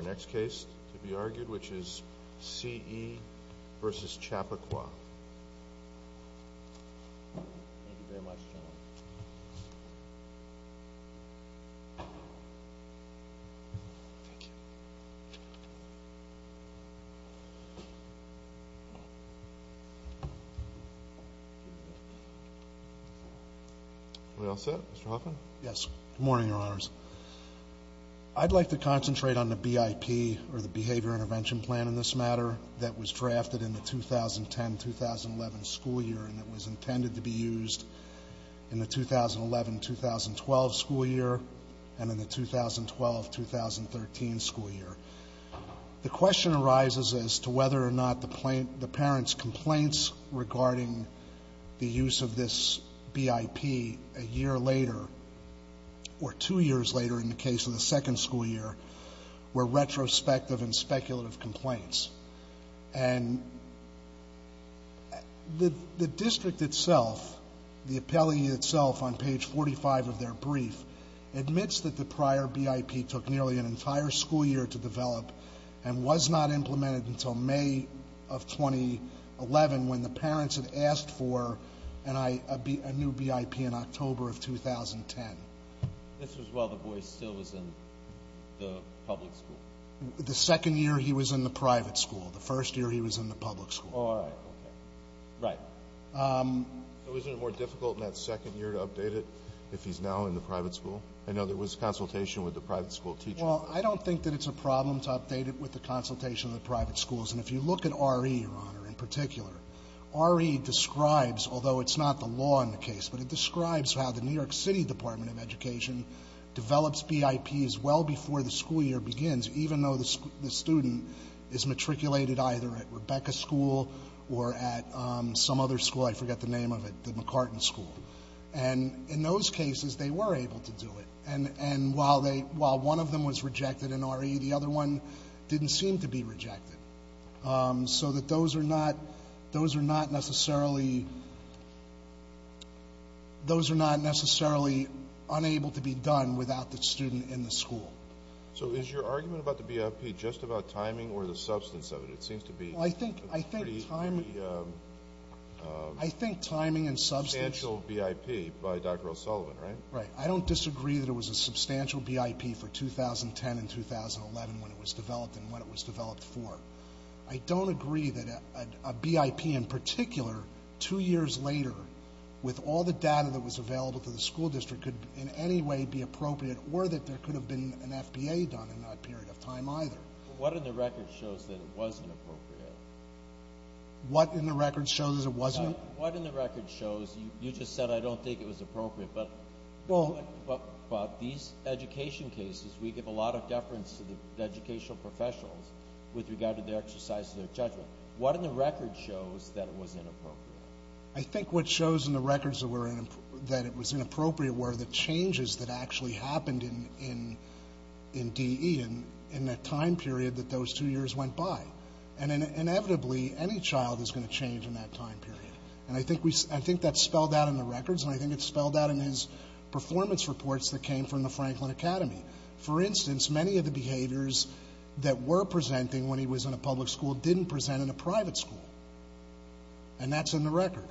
to be argued, which is C.E. v. Chappaqua. Thank you very much, General. Thank you. Are we all set, Mr. Hoffman? Yes. Good morning, Your Honors. I'd like to concentrate on the BIP, or the Behavior Intervention Plan in this matter, that was drafted in the 2010-2011 school year and that was intended to be used in the 2011-2012 school year and in the 2012-2013 school year. The question arises as to whether or not the parent's complaints regarding the use of this BIP a year later or two years later in the case of the second school year were retrospective and speculative complaints. And the district itself, the appellee itself, on page 45 of their brief, admits that the prior BIP took nearly an entire school year to develop and was not implemented until May of 2011 when the parents had asked for a new BIP in October of 2010. This was while the boy still was in the public school? The second year he was in the private school. The first year he was in the public school. All right. Okay. Right. So isn't it more difficult in that second year to update it if he's now in the private school? I know there was consultation with the private school teacher. Well, I don't think that it's a problem to update it with the consultation of the private schools. And if you look at RE, Your Honor, in particular, RE describes, although it's not the law in the case, but it describes how the New York City Department of Education develops BIPs well before the school year begins even though the student is matriculated either at Rebecca School or at some other school. I forget the name of it, the McCartan School. And in those cases, they were able to do it. And while one of them was rejected in RE, the other one didn't seem to be rejected. So that those are not necessarily unable to be done without the student in the school. So is your argument about the BIP just about timing or the substance of it? It seems to be a pretty substantial BIP by Dr. O'Sullivan, right? Right. I don't disagree that it was a substantial BIP for 2010 and 2011 when it was developed and what it was developed for. I don't agree that a BIP in particular two years later, with all the data that was available to the school district, could in any way be appropriate or that there could have been an FBA done in that period of time either. What in the record shows that it wasn't appropriate? What in the record shows it wasn't? What in the record shows you just said I don't think it was appropriate, but about these education cases, we give a lot of deference to the educational professionals with regard to their exercise of their judgment. What in the record shows that it was inappropriate? I think what shows in the records that it was inappropriate were the changes that actually happened in DE in that time period that those two years went by. And inevitably, any child is going to change in that time period. And I think that's spelled out in the records and I think it's spelled out in his performance reports that came from the Franklin Academy. For instance, many of the behaviors that were presenting when he was in a public school didn't present in a private school. And that's in the record.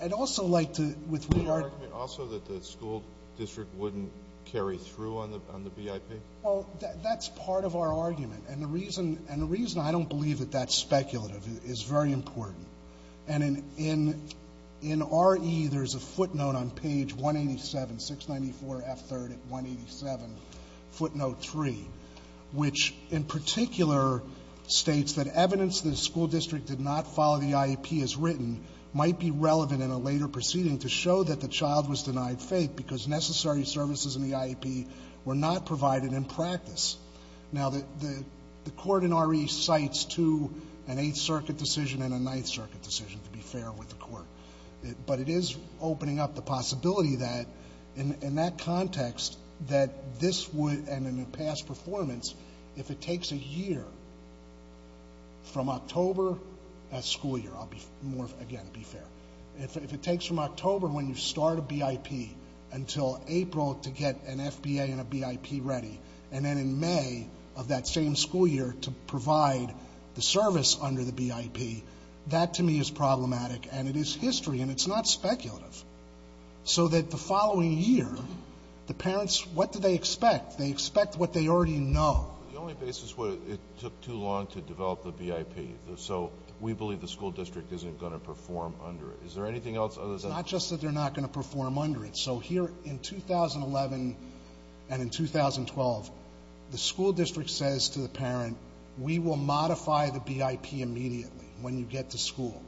I'd also like to, with regard to... Would you argue also that the school district wouldn't carry through on the BIP? Well, that's part of our argument. And the reason I don't believe that that's speculative is very important. And in RE, there's a footnote on page 187, 694F3 at 187, footnote 3, which in particular states that evidence that a school district did not follow the IEP as written might be relevant in a later proceeding to show that the child was denied faith because necessary services in the IEP were not provided in practice. Now, the court in RE cites to an Eighth Circuit decision and a Ninth Circuit decision, to be fair with the court. But it is opening up the possibility that, in that context, that this would, and in a past performance, if it takes a year from October, a school year. I'll be more, again, be fair. If it takes from October when you start a BIP until April to get an FBA and a BIP ready, and then in May of that same school year to provide the service under the BIP, that to me is problematic. And it is history, and it's not speculative. So that the following year, the parents, what do they expect? They expect what they already know. The only basis would be it took too long to develop the BIP. So we believe the school district isn't going to perform under it. Is there anything else other than that? It's not just that they're not going to perform under it. So here in 2011 and in 2012, the school district says to the parent, we will modify the BIP immediately when you get to school.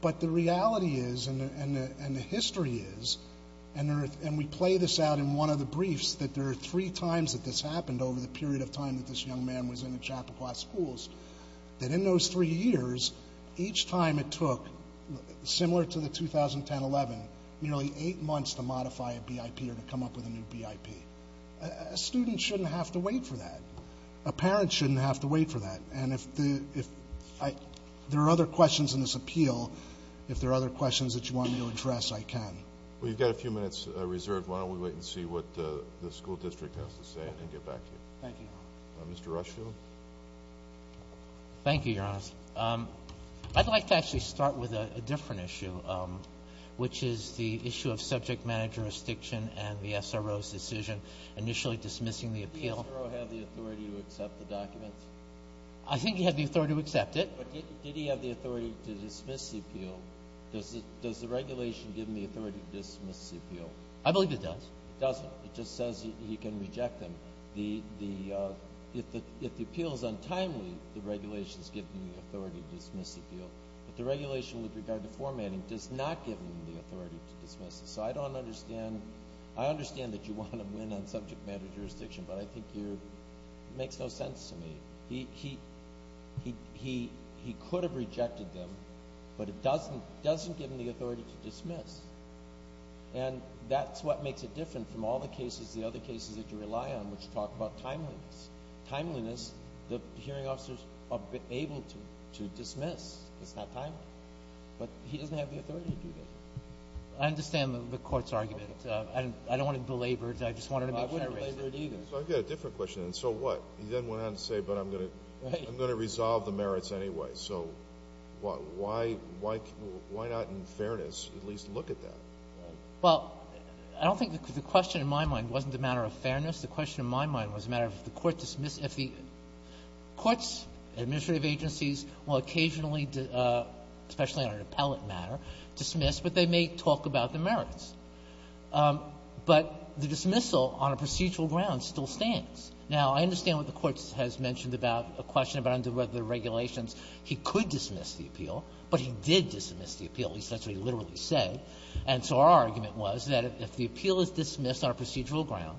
But the reality is, and the history is, and we play this out in one of the briefs, that there are three times that this happened over the period of time that this young man was in the Chappaqua schools, that in those three years, each time it took, similar to the 2010-11, nearly eight months to modify a BIP or to come up with a new BIP. A student shouldn't have to wait for that. A parent shouldn't have to wait for that. And if there are other questions in this appeal, if there are other questions that you want me to address, I can. Well, you've got a few minutes reserved. Why don't we wait and see what the school district has to say and get back to you. Thank you. Mr. Rushfield. Thank you, Your Honor. I'd like to actually start with a different issue, which is the issue of subject matter jurisdiction and the SRO's decision initially dismissing the appeal. Did the SRO have the authority to accept the documents? I think he had the authority to accept it. But did he have the authority to dismiss the appeal? Does the regulation give him the authority to dismiss the appeal? I believe it does. It doesn't. It just says he can reject them. If the appeal is untimely, the regulation is giving him the authority to dismiss the appeal. But the regulation with regard to formatting does not give him the authority to dismiss it. So I don't understand. I understand that you want to win on subject matter jurisdiction, but I think it makes no sense to me. He could have rejected them, but it doesn't give him the authority to dismiss. And that's what makes it different from all the cases, that you rely on, which talk about timeliness. Timeliness, the hearing officers are able to dismiss. It's not timely. But he doesn't have the authority to do that. I understand the Court's argument. I don't want to belabor it. I just wanted to make sure. I wouldn't belabor it either. So I've got a different question. And so what? He then went on to say, but I'm going to resolve the merits anyway. So why not, in fairness, at least look at that? Well, I don't think the question, in my mind, wasn't a matter of fairness. The question, in my mind, was a matter of if the Court dismissed, if the Court's administrative agencies will occasionally, especially on an appellate matter, dismiss, but they may talk about the merits. But the dismissal on a procedural ground still stands. Now, I understand what the Court has mentioned about a question about whether the regulations he could dismiss the appeal, but he did dismiss the appeal. At least that's what he literally said. And so our argument was that if the appeal is dismissed on a procedural ground,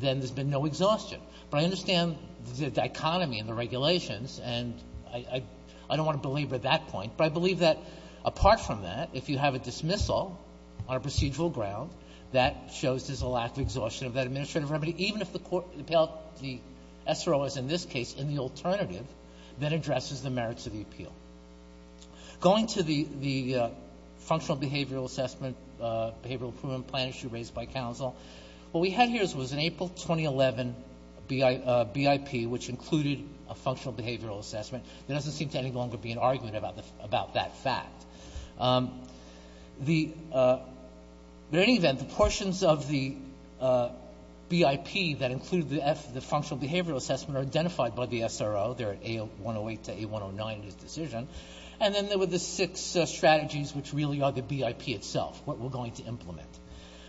then there's been no exhaustion. But I understand the dichotomy in the regulations, and I don't want to belabor that point. But I believe that, apart from that, if you have a dismissal on a procedural ground, that shows there's a lack of exhaustion of that administrative remedy, even if the SRO is, in this case, in the alternative, that addresses the merits of the appeal. Going to the functional behavioral assessment, behavioral improvement plan issue raised by counsel, what we had here was an April 2011 BIP, which included a functional behavioral assessment. There doesn't seem to any longer be an argument about that fact. The — in any event, the portions of the BIP that included the functional behavioral assessment are identified by the SRO. They're at A108 to A109 in his decision. And then there were the six strategies, which really are the BIP itself, what we're going to implement.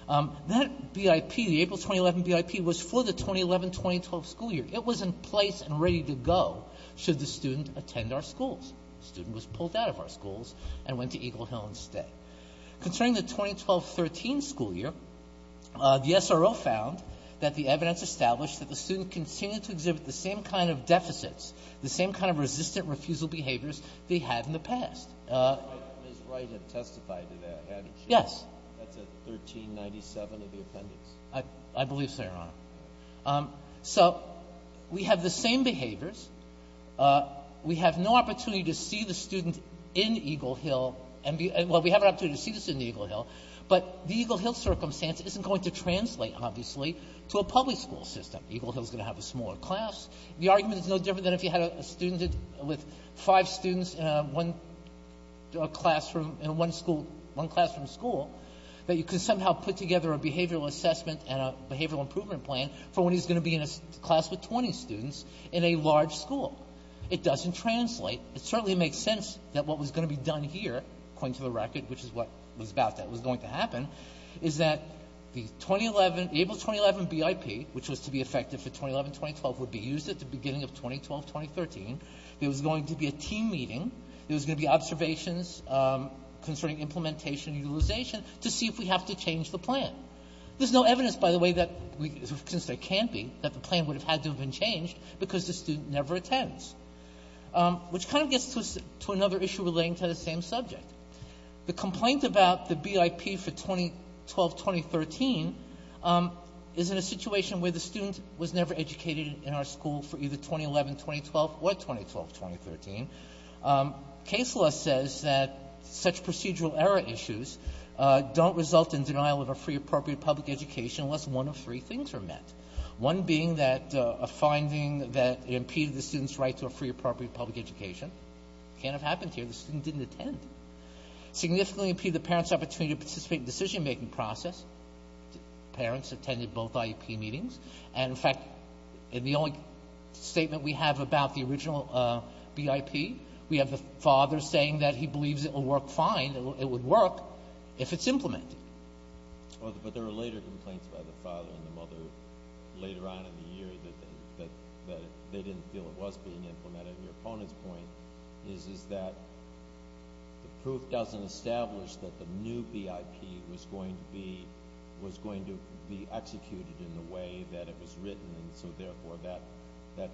That BIP, the April 2011 BIP, was for the 2011-2012 school year. It was in place and ready to go should the student attend our schools. The student was pulled out of our schools and went to Eagle Hill instead. Concerning the 2012-13 school year, the SRO found that the evidence established that the student continued to exhibit the same kind of deficits, the same kind of resistant refusal behaviors they had in the past. But Ms. Wright had testified to that, hadn't she? Yes. That's at 1397 of the appendix. I believe so, Your Honor. So we have the same behaviors. We have no opportunity to see the student in Eagle Hill and be — well, we have an opportunity to see the student in Eagle Hill, but the Eagle Hill circumstance isn't going to translate, obviously, to a public school system. Eagle Hill is going to have a smaller class. The argument is no different than if you had a student with five students in one classroom — in one school — one classroom school, that you could somehow put together a behavioral assessment and a behavioral improvement plan for when he's going to be in a class with 20 students in a large school. It doesn't translate. It certainly makes sense that what was going to be done here, according to the record, which is what was about that was going to happen, is that the 2011 — the April 2011 BIP, which was to be effective for 2011-2012, would be used at the beginning of 2012-2013. There was going to be a team meeting. There was going to be observations concerning implementation and utilization to see if we have to change the plan. There's no evidence, by the way, that — since there can't be — that the plan would have had to have been changed because the student never attends, which kind of gets to another issue relating to the same subject. The complaint about the BIP for 2012-2013 is in a situation where the student was never educated in our school for either 2011-2012 or 2012-2013. Case law says that such procedural error issues don't result in denial of a free, appropriate public education unless one of three things are met, one being that a finding that it impeded the student's right to a free, appropriate public education. Can't have happened here. The student didn't attend. Significantly impeded the parent's opportunity to participate in the decision-making process. Parents attended both IEP meetings. And, in fact, in the only statement we have about the original BIP, we have the father saying that he believes it will work fine, it would work if it's implemented. But there were later complaints by the father and the mother later on in the year that they didn't feel it was being implemented. Your opponent's point is that the proof doesn't establish that the new BIP was going to be executed in the way that it was written, and so, therefore, that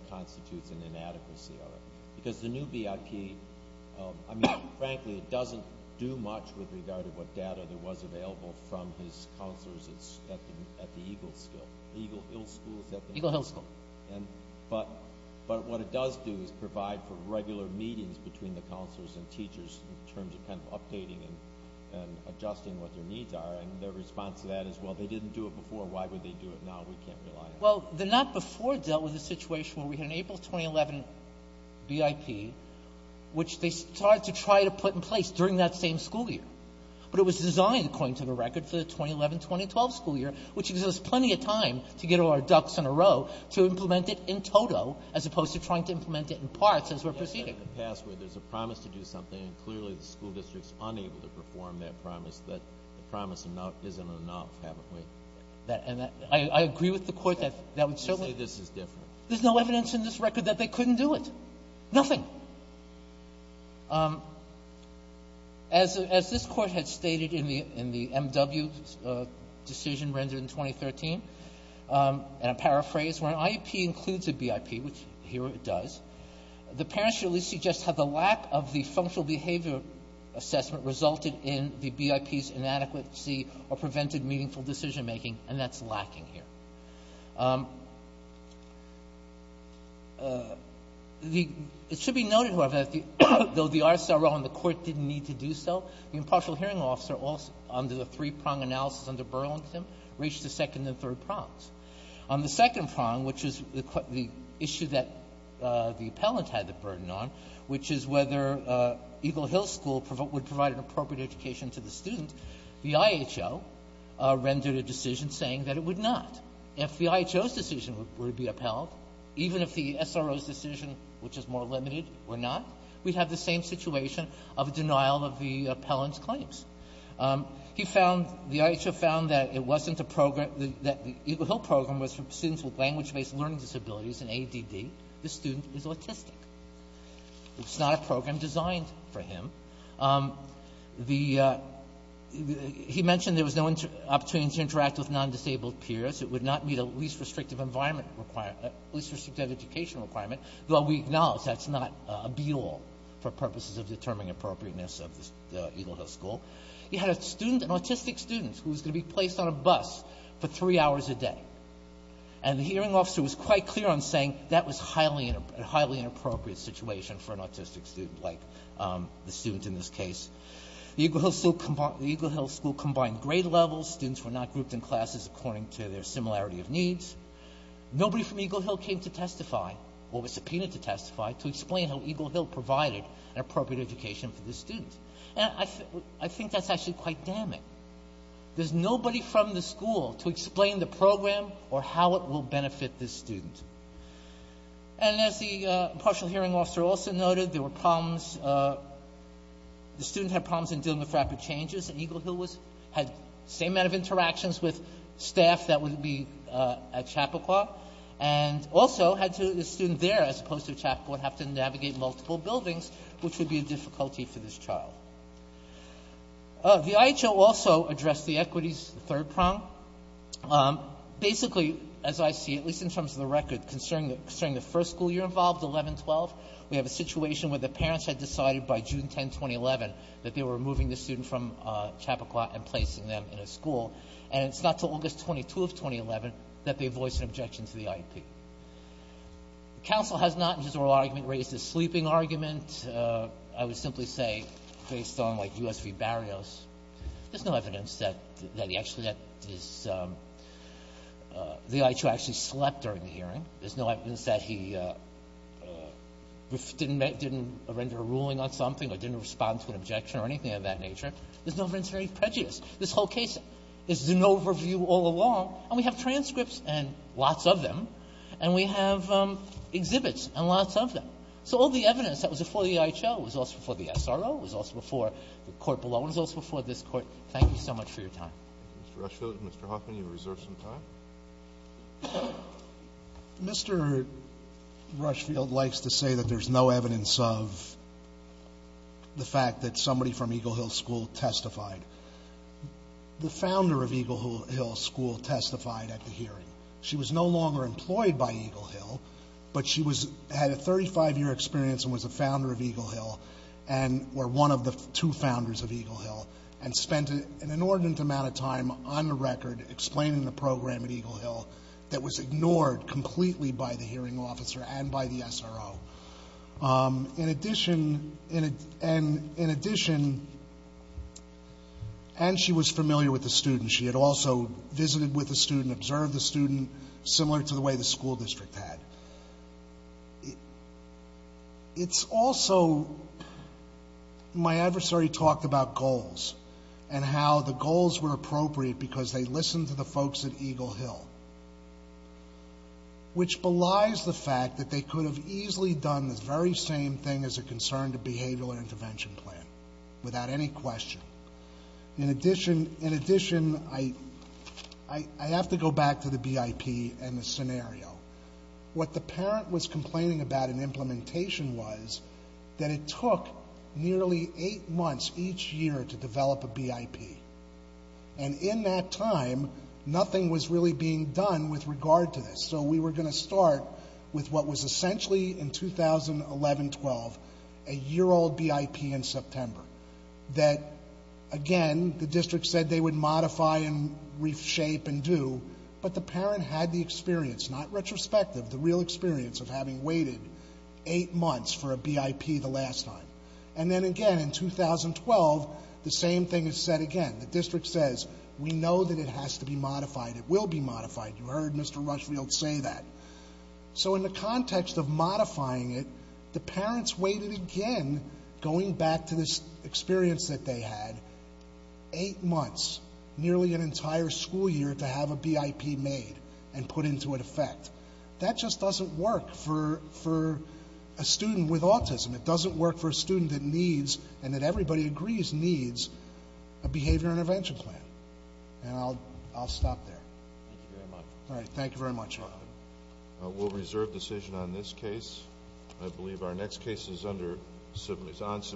constitutes an inadequacy of it. Because the new BIP, I mean, frankly, it doesn't do much with regard to what data there was available from his counselors at the Eagle School, Eagle Hill School. Eagle Hill School. But what it does do is provide for regular meetings between the counselors and teachers in terms of kind of updating and adjusting what their needs are. And their response to that is, well, they didn't do it before. Why would they do it now? We can't rely on it. Well, the not before dealt with a situation where we had an April 2011 BIP, which they started to try to put in place during that same school year. But it was designed, according to the record, for the 2011-2012 school year, which exists plenty of time to get all our ducks in a row to implement it in toto, as opposed to trying to implement it in parts as we're proceeding. But you just said in the past where there's a promise to do something, and clearly the school district's unable to perform that promise, that the promise isn't enough, haven't we? And I agree with the Court that that would certainly be the case. You say this is different. There's no evidence in this record that they couldn't do it. Nothing. Now, as this Court had stated in the M.W. decision rendered in 2013, and I paraphrase, where an IEP includes a BIP, which here it does, the parent should at least suggest how the lack of the functional behavior assessment resulted in the BIP's inadequacy or prevented meaningful decision-making, and that's lacking here. It should be noted, however, that though the RCRL and the Court didn't need to do so, the impartial hearing officer, under the three-prong analysis under Burlington, reached the second and third prongs. On the second prong, which is the issue that the appellant had the burden on, which is whether Eagle Hill School would provide an appropriate education to the student, the If the IHO's decision were to be upheld, even if the SRO's decision, which is more limited, were not, we'd have the same situation of denial of the appellant's claims. He found the IHO found that it wasn't a program that the Eagle Hill program was for students with language-based learning disabilities, an ADD. The student is autistic. It's not a program designed for him. The he mentioned there was no opportunity to interact with non-disabled peers. It would not meet a least restrictive environment requirement, least restrictive education requirement, though we acknowledge that's not a be-all for purposes of determining appropriateness of the Eagle Hill School. He had a student, an autistic student, who was going to be placed on a bus for three hours a day. And the hearing officer was quite clear on saying that was a highly inappropriate situation for an autistic student, like the student in this case. The Eagle Hill School combined grade levels. Students were not grouped in classes according to their similarity of needs. Nobody from Eagle Hill came to testify or was subpoenaed to testify to explain how Eagle Hill provided an appropriate education for this student. And I think that's actually quite damning. There's nobody from the school to explain the program or how it will benefit this student. And as the impartial hearing officer also noted, there were problems. The student had problems in dealing with rapid changes. And Eagle Hill had the same amount of interactions with staff that would be at Chappaqua. And also had to, the student there, as opposed to at Chappaqua, would have to navigate multiple buildings, which would be a difficulty for this child. The IHO also addressed the equities, the third prong. Basically, as I see, at least in terms of the record, concerning the first school year involved, 11-12, we have a situation where the parents had decided by June 10, 2011, that they were removing the student from Chappaqua and placing them in a school. And it's not until August 22 of 2011 that they voiced an objection to the IEP. The counsel has not, in his oral argument, raised a sleeping argument. I would simply say, based on, like, U.S. v. Barrios, there's no evidence that he actually did his – the IHO actually slept during the hearing. There's no evidence that he didn't render a ruling on something or didn't respond to an objection or anything of that nature. There's no evidence of any prejudice. This whole case is an overview all along. And we have transcripts and lots of them. And we have exhibits and lots of them. So all the evidence that was before the IHO was also before the SRO, was also before the court below, and was also before this Court. Thank you so much for your time. Mr. Rushfield, Mr. Hoffman, you have reserved some time. Mr. Rushfield likes to say that there's no evidence of the fact that somebody from Eagle Hill School testified. The founder of Eagle Hill School testified at the hearing. She was no longer employed by Eagle Hill, but she was – had a 35-year experience and was a founder of Eagle Hill and – or one of the two founders of Eagle Hill and spent an inordinate amount of time on the record explaining the program at Eagle Hill that was ignored completely by the hearing officer and by the SRO. In addition – and she was familiar with the student. She had also visited with the student, observed the student, similar to the way the school district had. It's also – my adversary talked about goals and how the goals were appropriate because they listened to the folks at Eagle Hill, which belies the fact that they could have easily done the very same thing as it concerned a behavioral intervention plan without any question. In addition, I have to go back to the BIP and the scenario. What the parent was complaining about in implementation was that it took nearly eight months each year to develop a BIP. And in that time, nothing was really being done with regard to this. So we were going to start with what was essentially, in 2011-12, a year-old BIP in September that, again, the district said they would modify and reshape and do, but the parent had the experience, not retrospective, the real experience of having waited eight months for a BIP the last time. And then, again, in 2012, the same thing is said again. The district says, we know that it has to be modified. It will be modified. You heard Mr. Rushfield say that. So in the context of modifying it, the parents waited again, going back to this experience that they had, eight months, nearly an entire school year, to have a BIP made and put into effect. That just doesn't work for a student with autism. It doesn't work for a student that needs, and that everybody agrees needs, a behavioral intervention plan. And I'll stop there. Thank you very much. All right. Thank you very much. We'll reserve decision on this case. I believe our next case is under Sibley.